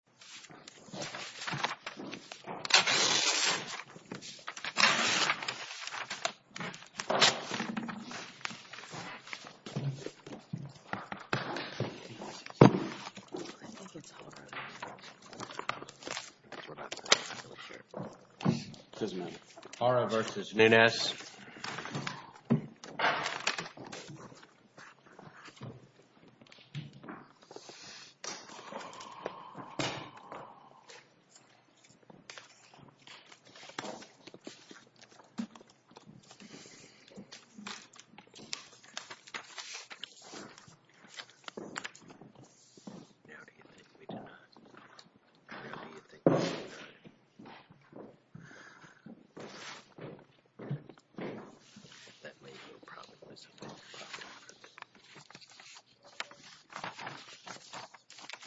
want to play. Thank you. You.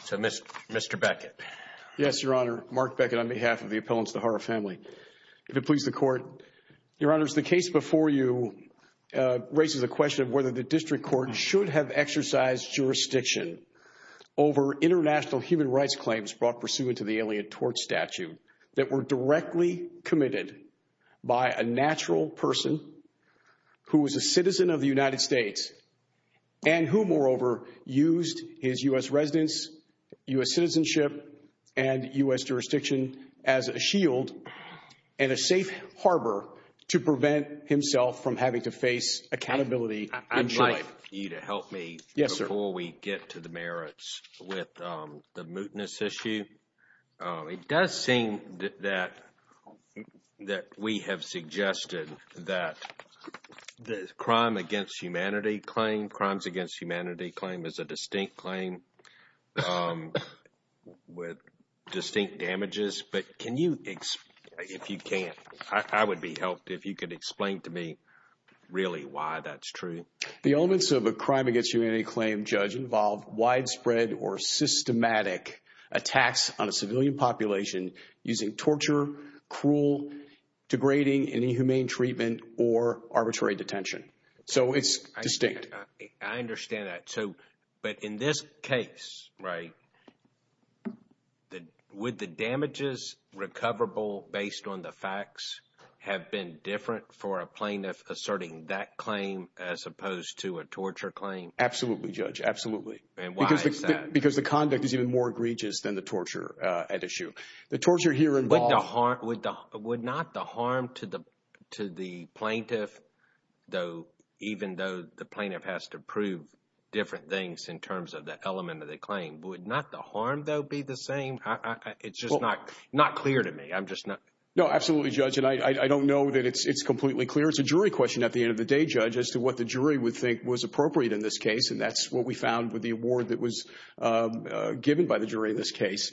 So, Mr. Mr. Beckett, yes, Your Honor, Mark Beckett, on behalf of the appellants, the case before you raises a question of whether the district court should have exercised jurisdiction over international human rights claims brought pursuant to the Alien Tort Statute that were directly committed by a natural person who was a citizen of the United States and who moreover used his U.S. residence, U.S. citizenship, and U.S. jurisdiction as a shield and a safe harbor to prevent himself from having to face accountability in life. I'd like you to help me before we get to the merits with the mootness issue. It does seem that that we have suggested that the crime against humanity claim, crimes against humanity claim is a distinct claim with distinct damages, but can you, if you can. I would be helped if you could explain to me really why that's true. The elements of a crime against humanity claim, Judge, involve widespread or systematic attacks on a civilian population using torture, cruel, degrading, and inhumane treatment or arbitrary detention. So, it's distinct. I understand that, too, but in this case, right, would the damages recoverable based on the facts have been different for a plaintiff asserting that claim as opposed to a torture claim? Absolutely, Judge. Absolutely. And why is that? Because the conduct is even more egregious than the torture at issue. The torture here involved... Would not the harm to the plaintiff, though, even though the plaintiff has to prove different things in terms of the element of the claim, would not the harm, though, be the same? It's just not clear to me. I'm just not... No, absolutely, Judge. And I don't know that it's completely clear. It's a jury question at the end of the day, Judge, as to what the jury would think was appropriate in this case, and that's what we found with the award that was given by the jury in this case.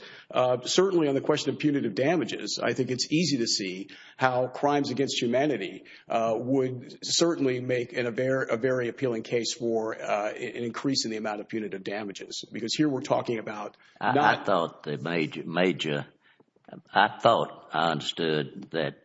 Certainly on the question of punitive damages, I think it's easy to see how crimes against humanity would certainly make a very appealing case for an increase in the amount of punitive damages, because here we're talking about... I thought I understood that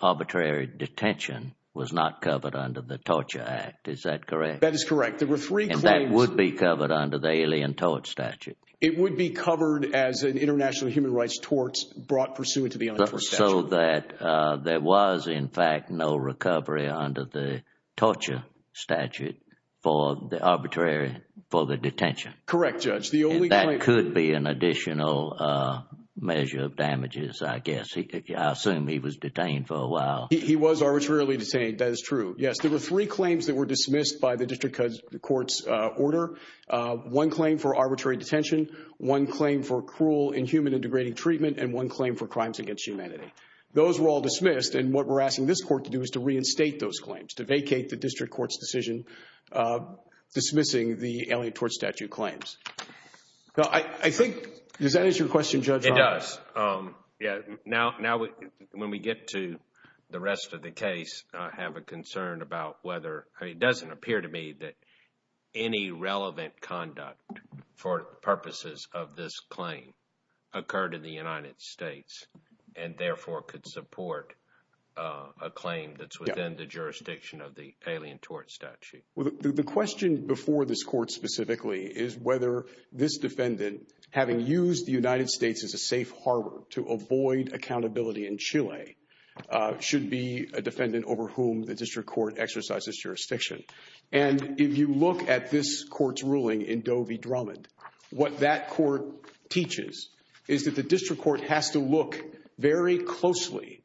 arbitrary detention was not covered under the Torture Act. Is that correct? That is correct. There were three claims... And that would be covered under the Alien Tort Statute. It would be covered as an international human rights tort brought pursuant to the Alien Tort Statute. So that there was, in fact, no recovery under the Torture Statute for the arbitrary... for the detention. Correct, Judge. And that could be an additional measure of damages, I guess. I assume he was detained for a while. He was arbitrarily detained. That is true. Yes, there were three claims that were dismissed by the District Court's order. One claim for arbitrary detention, one claim for cruel, inhuman, and degrading treatment, and one claim for crimes against humanity. Those were all dismissed, and what we're asking this Court to do is to reinstate those claims, to vacate the District Court's decision dismissing the Alien Tort Statute claims. I think... Does that answer your question, Judge Roberts? It does. Yes. Now, when we get to the rest of the case, I have a concern about whether... It doesn't appear to me that any relevant conduct for purposes of this claim occurred in the United States, and therefore could support a claim that's within the jurisdiction of the Alien Tort Statute. The question before this Court, specifically, is whether this defendant, having used the United States as a safe harbor to avoid accountability in Chile, should be a defendant over whom the District Court exercises jurisdiction. And if you look at this Court's ruling in Doe v. Drummond, what that Court teaches is that the District Court has to look very closely,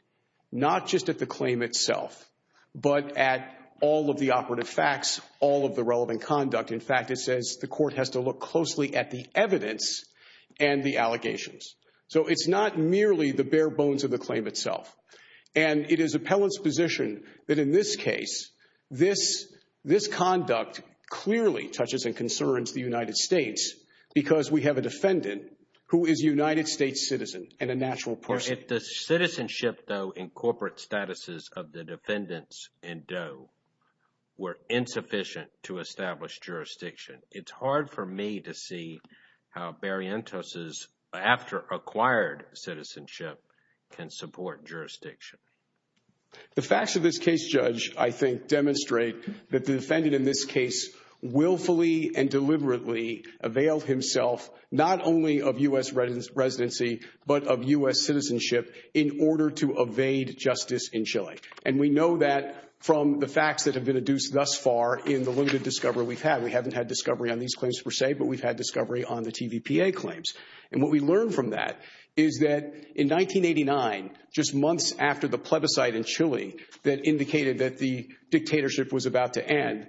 not just at the claim itself, but at all of the operative facts, all of the relevant conduct. In fact, it says the Court has to look closely at the evidence and the allegations. So it's not merely the bare bones of the claim itself. And it is appellant's position that in this case, this conduct clearly touches and concerns the United States because we have a defendant who is a United States citizen and a natural person. If the citizenship, though, in corporate statuses of the defendants in Doe were insufficient to establish jurisdiction, it's hard for me to see how Barrientos' after-acquired citizenship can support jurisdiction. The facts of this case, Judge, I think demonstrate that the defendant in this case willfully and deliberately avail himself not only of U.S. residency, but of U.S. citizenship in order to evade justice in Chile. And we know that from the facts that have been adduced thus far in the limited discovery we've had. We haven't had discovery on these claims per se, but we've had discovery on the TVPA claims. And what we learned from that is that in 1989, just months after the plebiscite in Chile that indicated that the dictatorship was about to end,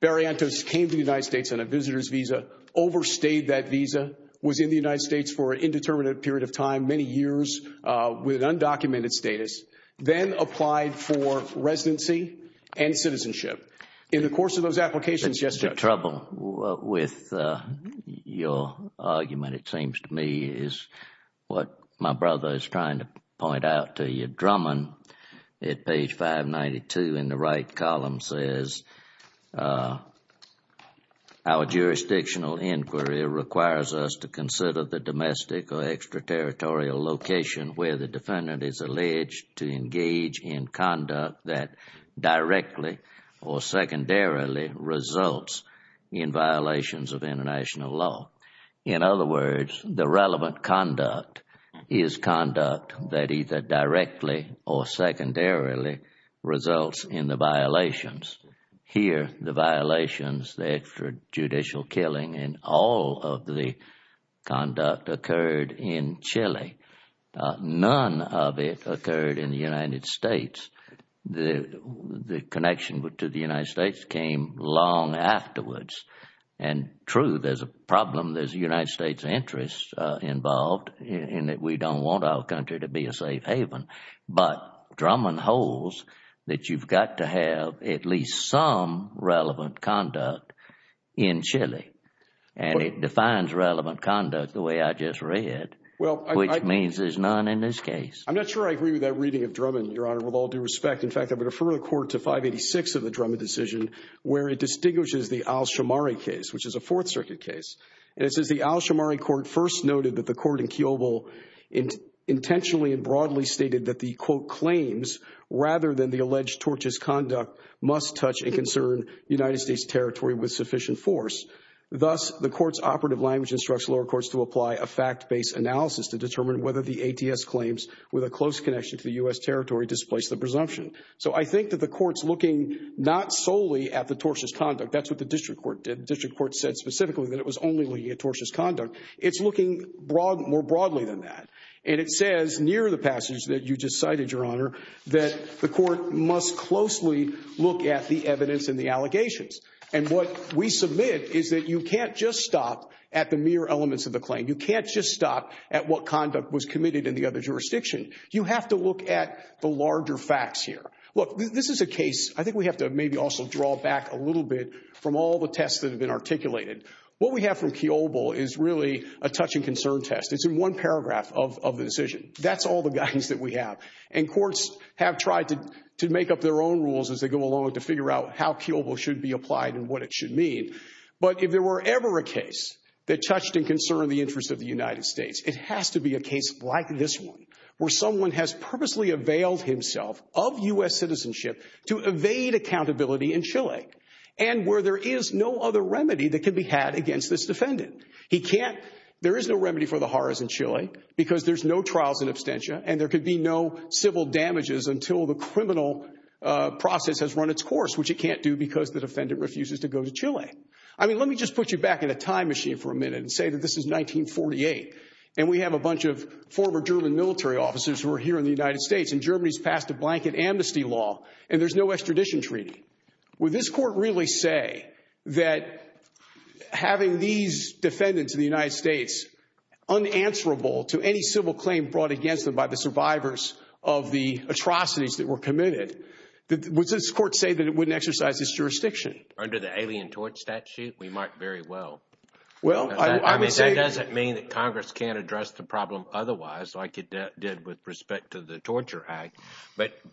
Barrientos came to the United States on a visitor's visa, overstayed that visa, was in the United States for an indeterminate period of time, many years with undocumented status, then applied for residency and citizenship. In the course of those applications, Justice— Mr. Trouble, with your argument, it seems to me is what my brother is trying to point out to you. Drummond, at page 592 in the right column, says, Our jurisdictional inquiry requires us to consider the domestic or extraterritorial location where the defendant is alleged to engage in conduct that directly or secondarily results in violations of international law. In other words, the relevant conduct is conduct that either directly or secondarily results in the violations. Here, the violations, the extrajudicial killing and all of the conduct occurred in Chile. None of it occurred in the United States. The connection to the United States came long afterwards. And true, there is no reason why you don't want our country to be a safe haven, but Drummond holds that you've got to have at least some relevant conduct in Chile. And it defines relevant conduct the way I just read, which means there's none in this case. I'm not sure I agree with that reading of Drummond, Your Honor, with all due respect. In fact, I would refer the Court to 586 of the Drummond decision, where it distinguishes the Al-Shomari case, which is a Fourth Circuit case. And it says the Al-Shomari Court first noted that the Court in Kiobel intentionally and broadly stated that the, quote, claims rather than the alleged tortious conduct must touch and concern United States territory with sufficient force. Thus, the Court's operative language instructs lower courts to apply a fact-based analysis to determine whether the ATS claims with a close connection to the U.S. territory displace the presumption. So I think that the Court's looking not solely at the tortious conduct. That's what the district court did. The district court said specifically that it was only looking at tortious conduct. It's looking more broadly than that. And it says near the passage that you just cited, Your Honor, that the Court must closely look at the evidence and the allegations. And what we submit is that you can't just stop at the mere elements of the claim. You can't just stop at what conduct was committed in the other jurisdiction. You have to look at the larger facts here. Look, this is a case, I think we have to maybe also draw back a little bit from all the tests that have been articulated. What we have from Kiobel is really a touch and concern test. It's in one paragraph of the decision. That's all the guidance that we have. And courts have tried to make up their own rules as they go along to figure out how Kiobel should be applied and what it should mean. But if there were ever a case that touched and concerned the interests of the United States, it has to be a case like this one, where someone has purposely availed himself of U.S. citizenship to evade accountability in Chile, and where there is no other remedy that can be had against this defendant. There is no remedy for the horrors in Chile, because there's no trials and abstentia, and there could be no civil damages until the criminal process has run its course, which it can't do because the defendant refuses to go to Chile. I mean, let me just put you back in a time machine for a minute and say that this is 1948, and we have a bunch of former German military officers who are here in the United Would this court really say that having these defendants in the United States unanswerable to any civil claim brought against them by the survivors of the atrocities that were committed, would this court say that it wouldn't exercise its jurisdiction? Under the Alien Tort Statute, we might very well. Well, I would say... I mean, that doesn't mean that Congress can't address the problem otherwise, like it did with respect to the Torture Act, but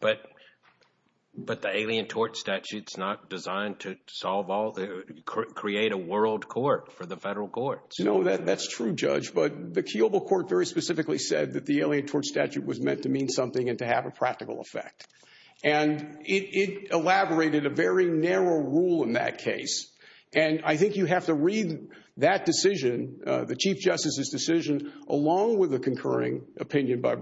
the Alien Tort Statute is not designed to create a world court for the federal courts. No, that's true, Judge, but the Kiobo Court very specifically said that the Alien Tort Statute was meant to mean something and to have a practical effect, and it elaborated a very narrow rule in that case, and I think you have to read that decision, the Chief of the Court, along with the concurring opinion by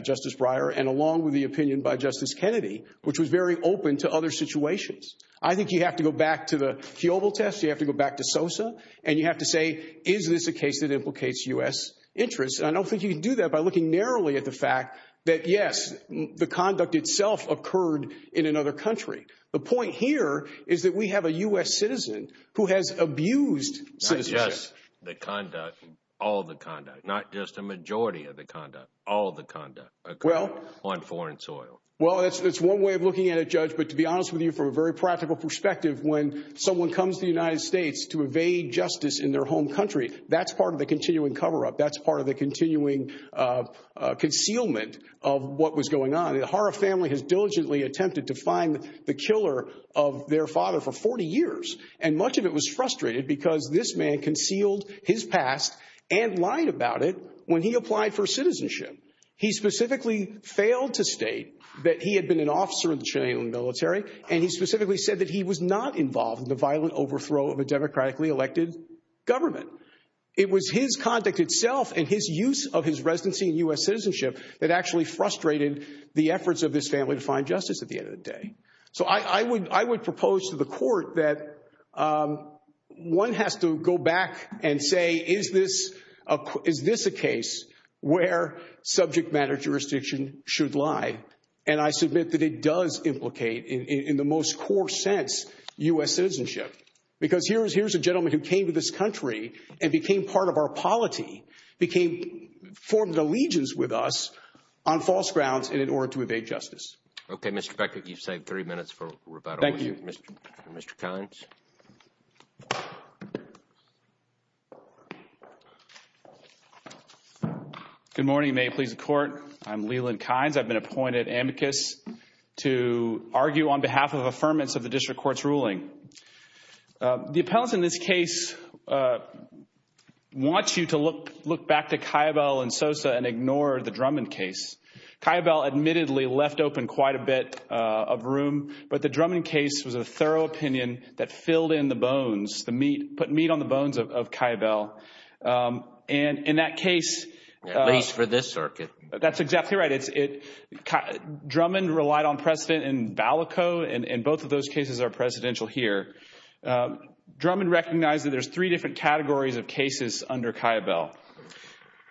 Justice Breyer, and along with the opinion by Justice Kennedy, which was very open to other situations. I think you have to go back to the Kiobo test, you have to go back to SOSA, and you have to say, is this a case that implicates U.S. interests, and I don't think you can do that by looking narrowly at the fact that, yes, the conduct itself occurred in another country. The point here is that we have a U.S. citizen who has abused citizenship. Yes, the conduct, all the conduct, not just a majority of the conduct, all the conduct occurred on foreign soil. Well, that's one way of looking at it, Judge, but to be honest with you, from a very practical perspective, when someone comes to the United States to evade justice in their home country, that's part of the continuing cover-up, that's part of the continuing concealment of what was going on. The Hara family has diligently attempted to find the killer of their father for 40 years, and much of it was frustrated because this man concealed his past and lied about it when he applied for citizenship. He specifically failed to state that he had been an officer in the Chilean military, and he specifically said that he was not involved in the violent overthrow of a democratically elected government. It was his conduct itself and his use of his residency in U.S. citizenship that actually frustrated the efforts of this family to find justice at the end of the day. So I would propose to the court that one has to go back and say, is this a case where subject matter jurisdiction should lie? And I submit that it does implicate, in the most core sense, U.S. citizenship. Because here's a gentleman who came to this country and became part of our polity, formed allegiance with us on false grounds in order to evade justice. OK, Mr. Becker, you've saved three minutes for rebuttal. Thank you. Mr. Kynes. Good morning, may it please the court. I'm Leland Kynes. I've been appointed amicus to argue on behalf of affirmance of the district court's ruling. The appellants in this case want you to look back to Caibal and Sosa and ignore the Drummond case. Caibal admittedly left open quite a bit of room, but the Drummond case was a thorough opinion that filled in the bones, the meat, put meat on the bones of Caibal. And in that case. At least for this circuit. That's exactly right. Drummond relied on precedent in Balico, and both of those cases are precedential here. Drummond recognized that there's three different categories of cases under Caibal.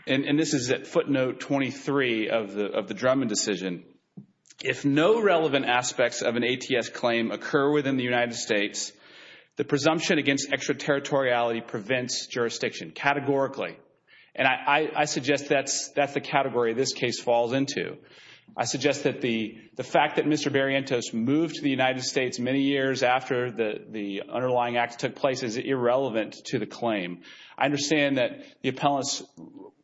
And this is footnote 23 of the Drummond decision. If no relevant aspects of an ATS claim occur within the United States, the presumption against extraterritoriality prevents jurisdiction categorically. And I suggest that's the category this case falls into. I suggest that the fact that Mr. Barrientos moved to the United States many years after the underlying act took place is irrelevant to the claim. I understand that the appellants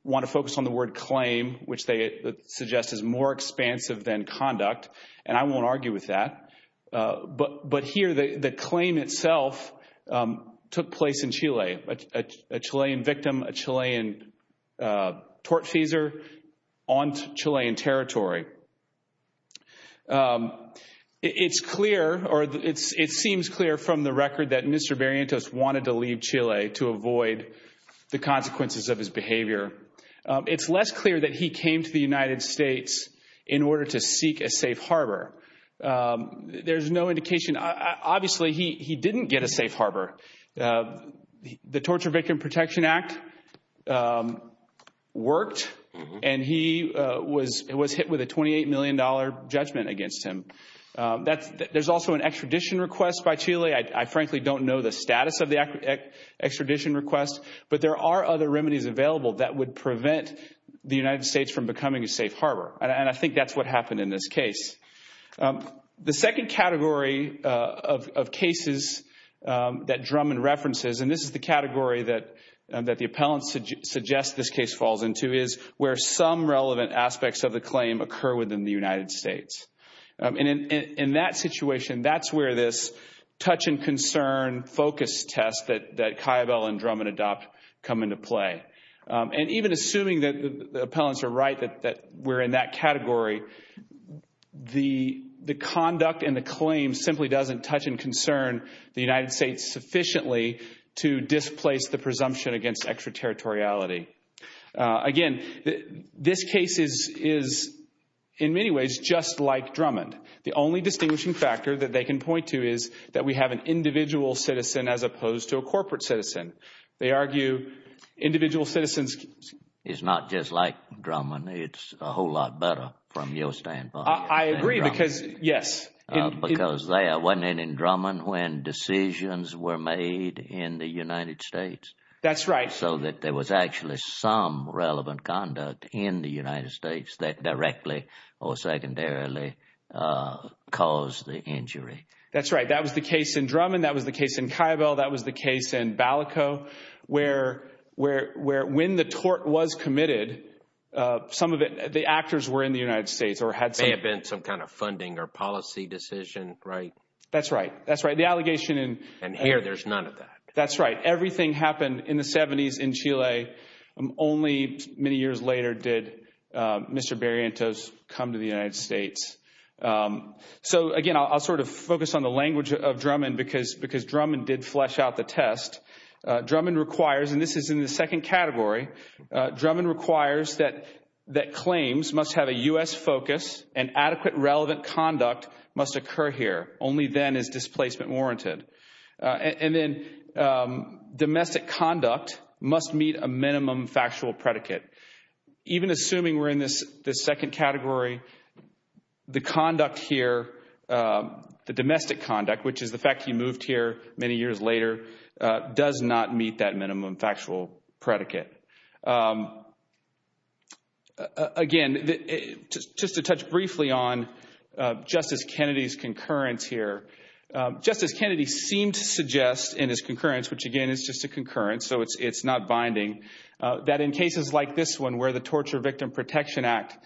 want to focus on the word claim, which they suggest is more expansive than conduct. And I won't argue with that. But here the claim itself took place in Chile, a Chilean victim, a Chilean tortfeasor on Chilean territory. It's clear or it seems clear from the record that Mr. Barrientos wanted to leave Chile to avoid the consequences of his behavior. It's less clear that he came to the United States in order to seek a safe harbor. There's no indication. Obviously, he didn't get a safe harbor. The Torture Victim Protection Act worked, and he was hit with a $28 million judgment against him. There's also an extradition request by Chile. I frankly don't know the status of the extradition request, but there are other remedies available that would prevent the United States from becoming a safe harbor. And I think that's what happened in this case. The second category of cases that Drummond references, and this is the category that the appellants suggest this case falls into, is where some relevant aspects of the claim occur within the United States. And in that situation, that's where this touch and concern focus test that Caiabel and Drummond adopt come into play. And even assuming that the appellants are right that we're in that category, the conduct and the claim simply doesn't touch and concern the United States sufficiently to displace the presumption against extraterritoriality. Again, this case is in many ways just like Drummond. The only distinguishing factor that they can point to is that we have an individual citizen as opposed to a corporate citizen. They argue individual citizens... It's not just like Drummond. It's a whole lot better from your standpoint. I agree because, yes. Because they are winning in Drummond when decisions were made in the United States. That's right. So that there was actually some relevant conduct in the United States that directly or secondarily caused the injury. That's right. That was the case in Drummond. That was the case in Caiabel. That was the case in Balico, where when the tort was committed, some of the actors were in the United States or had some... May have been some kind of funding or policy decision, right? That's right. That's right. The allegation in... And here there's none of that. That's right. So not everything happened in the 70s in Chile. Only many years later did Mr. Barrientos come to the United States. So again, I'll sort of focus on the language of Drummond because Drummond did flesh out the test. Drummond requires, and this is in the second category, Drummond requires that claims must have a U.S. focus and adequate relevant conduct must occur here. Only then is displacement warranted. And then domestic conduct must meet a minimum factual predicate. Even assuming we're in this second category, the conduct here, the domestic conduct, which is the fact he moved here many years later, does not meet that minimum factual predicate. Again, just to touch briefly on Justice Kennedy's concurrence here. Justice Kennedy seemed to suggest in his concurrence, which again is just a concurrence, so it's not binding, that in cases like this one where the Torture Victim Protection Act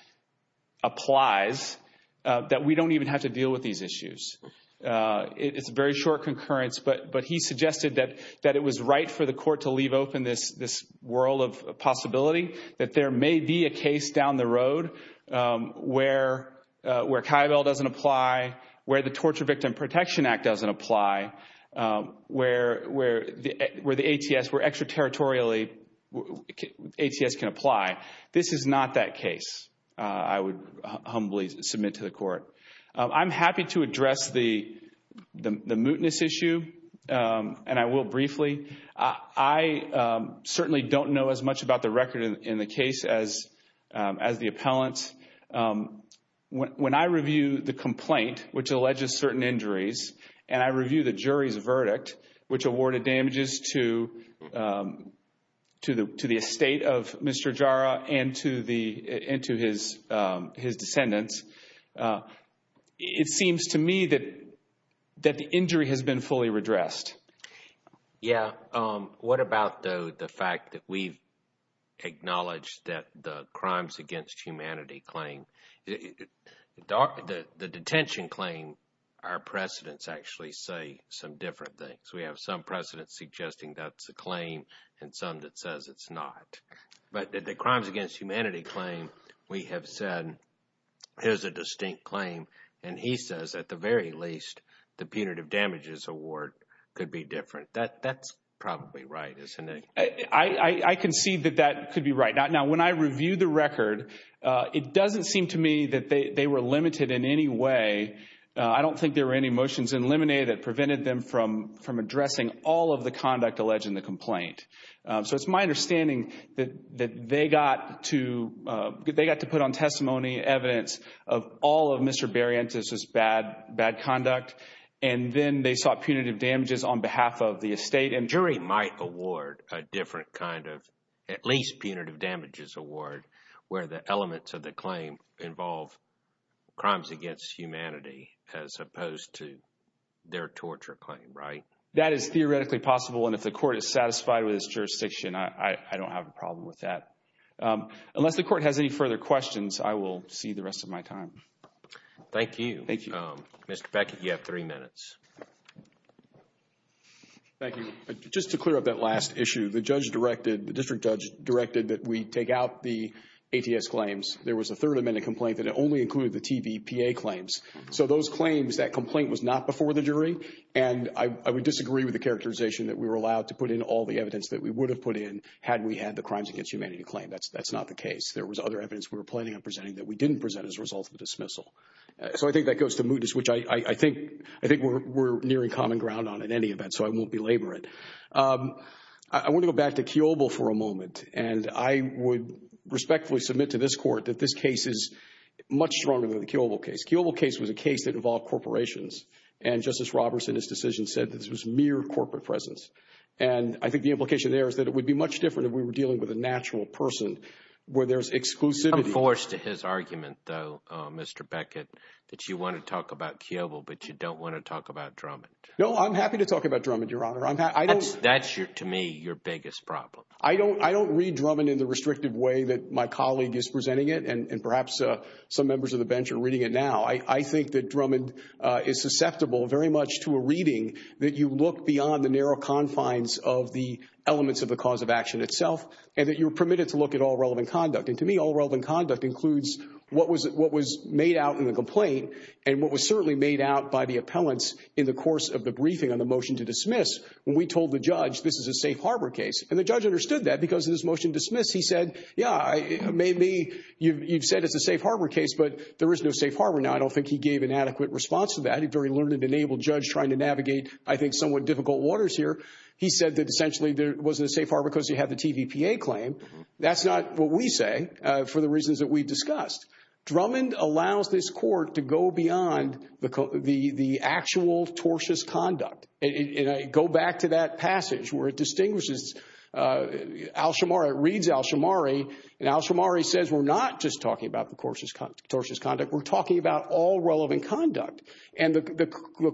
applies, that we don't even have to deal with these issues. It's a very short concurrence, but he suggested that it was right for the court to leave open this world of possibility, that there may be a case down the road where Kaibel doesn't apply, where the Torture Victim Protection Act doesn't apply, where the ATS, where extraterritorially ATS can apply. This is not that case, I would humbly submit to the court. I'm happy to address the mootness issue, and I will briefly. I certainly don't know as much about the record in the case as the appellant. When I review the complaint, which alleges certain injuries, and I review the jury's verdict, which awarded damages to the estate of Mr. Jara and to his descendants, it seems to me that the injury has been fully redressed. Yeah, what about, though, the fact that we've acknowledged that the Crimes Against Humanity claim, the detention claim, our precedents actually say some different things. We have some precedents suggesting that's a claim, and some that says it's not. But the Crimes Against Humanity claim, we have said, here's a distinct claim, and he says, at the very least, the punitive damages award could be different. That's probably right, isn't it? I concede that that could be right. Now, when I review the record, it doesn't seem to me that they were limited in any way. I don't think there were any motions eliminated that prevented them from addressing all of the conduct alleged in the complaint. So it's my understanding that they got to put on testimony evidence of all of Mr. Barrientos' bad conduct, and then they sought punitive damages on behalf of the estate. And jury might award a different kind of at least punitive damages award where the elements of the claim involve Crimes Against Humanity as opposed to their torture claim, right? That is theoretically possible, and if the court is satisfied with its jurisdiction, I don't have a problem with that. Unless the court has any further questions, I will see the rest of my time. Thank you. Thank you. Mr. Beckett, you have three minutes. Thank you. Just to clear up that last issue, the judge directed, the district judge directed that we take out the ATS claims. There was a third amendment complaint that only included the TVPA claims. So those claims, that complaint was not before the jury, and I would disagree with the characterization that we were allowed to put in all the evidence that we would have put in had we had the Crimes Against Humanity claim. That's not the case. There was other evidence we were planning on presenting that we didn't present as a dismissal. So I think that goes to mootness, which I think we're nearing common ground on in any event. So I won't belabor it. I want to go back to Kiobel for a moment, and I would respectfully submit to this court that this case is much stronger than the Kiobel case. Kiobel case was a case that involved corporations, and Justice Roberts in his decision said that this was mere corporate presence. And I think the implication there is that it would be much different if we were dealing with a natural person where there's exclusivity. I'm forced to his argument, though, Mr. Beckett, that you want to talk about Kiobel, but you don't want to talk about Drummond. No, I'm happy to talk about Drummond, Your Honor. That's to me your biggest problem. I don't read Drummond in the restrictive way that my colleague is presenting it, and perhaps some members of the bench are reading it now. I think that Drummond is susceptible very much to a reading that you look beyond the narrow confines of the elements of the cause of action itself, and that you're permitted to look at all relevant conduct. And to me, all relevant conduct includes what was made out in the complaint and what was certainly made out by the appellants in the course of the briefing on the motion to dismiss when we told the judge this is a safe harbor case. And the judge understood that because in his motion to dismiss, he said, yeah, maybe you've said it's a safe harbor case, but there is no safe harbor now. I don't think he gave an adequate response to that. He's a very learned and enabled judge trying to navigate, I think, somewhat difficult waters here. He said that essentially there wasn't a safe harbor because he had the TVPA claim. So that's not what we say for the reasons that we discussed. Drummond allows this court to go beyond the actual tortious conduct and go back to that passage where it distinguishes Al-Shamari, it reads Al-Shamari, and Al-Shamari says we're not just talking about the tortious conduct, we're talking about all relevant conduct. And the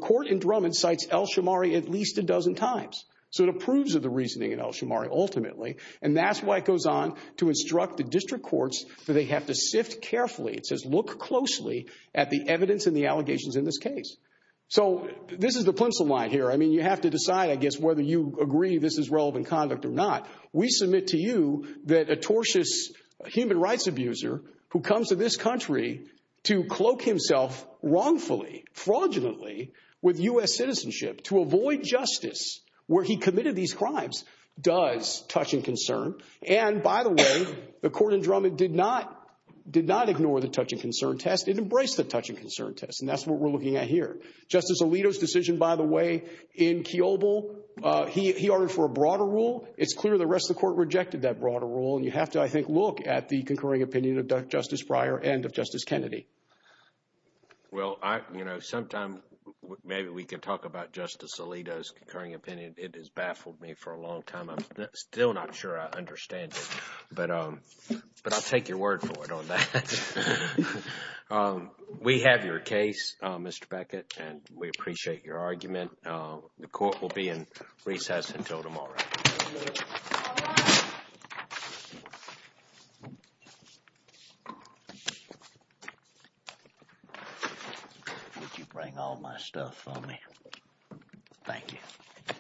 court in Drummond cites Al-Shamari at least a dozen times. So it approves of the reasoning in Al-Shamari ultimately. And that's why it goes on to instruct the district courts that they have to sift carefully. It says look closely at the evidence and the allegations in this case. So this is the pencil line here. I mean, you have to decide, I guess, whether you agree this is relevant conduct or not. We submit to you that a tortious human rights abuser who comes to this country to cloak himself wrongfully, fraudulently with U.S. citizenship to avoid justice where he committed these crimes, does touch and concern. And by the way, the court in Drummond did not ignore the touch and concern test. It embraced the touch and concern test, and that's what we're looking at here. Justice Alito's decision, by the way, in Kiobel, he ordered for a broader rule. It's clear the rest of the court rejected that broader rule, and you have to, I think, look at the concurring opinion of Justice Breyer and of Justice Kennedy. Well, you know, sometime maybe we can talk about Justice Alito's concurring opinion. It has baffled me for a long time. I'm still not sure I understand it, but I'll take your word for it on that. We have your case, Mr. Beckett, and we appreciate your argument. The court will be in recess until tomorrow. All rise. Would you bring all my stuff for me? Thank you.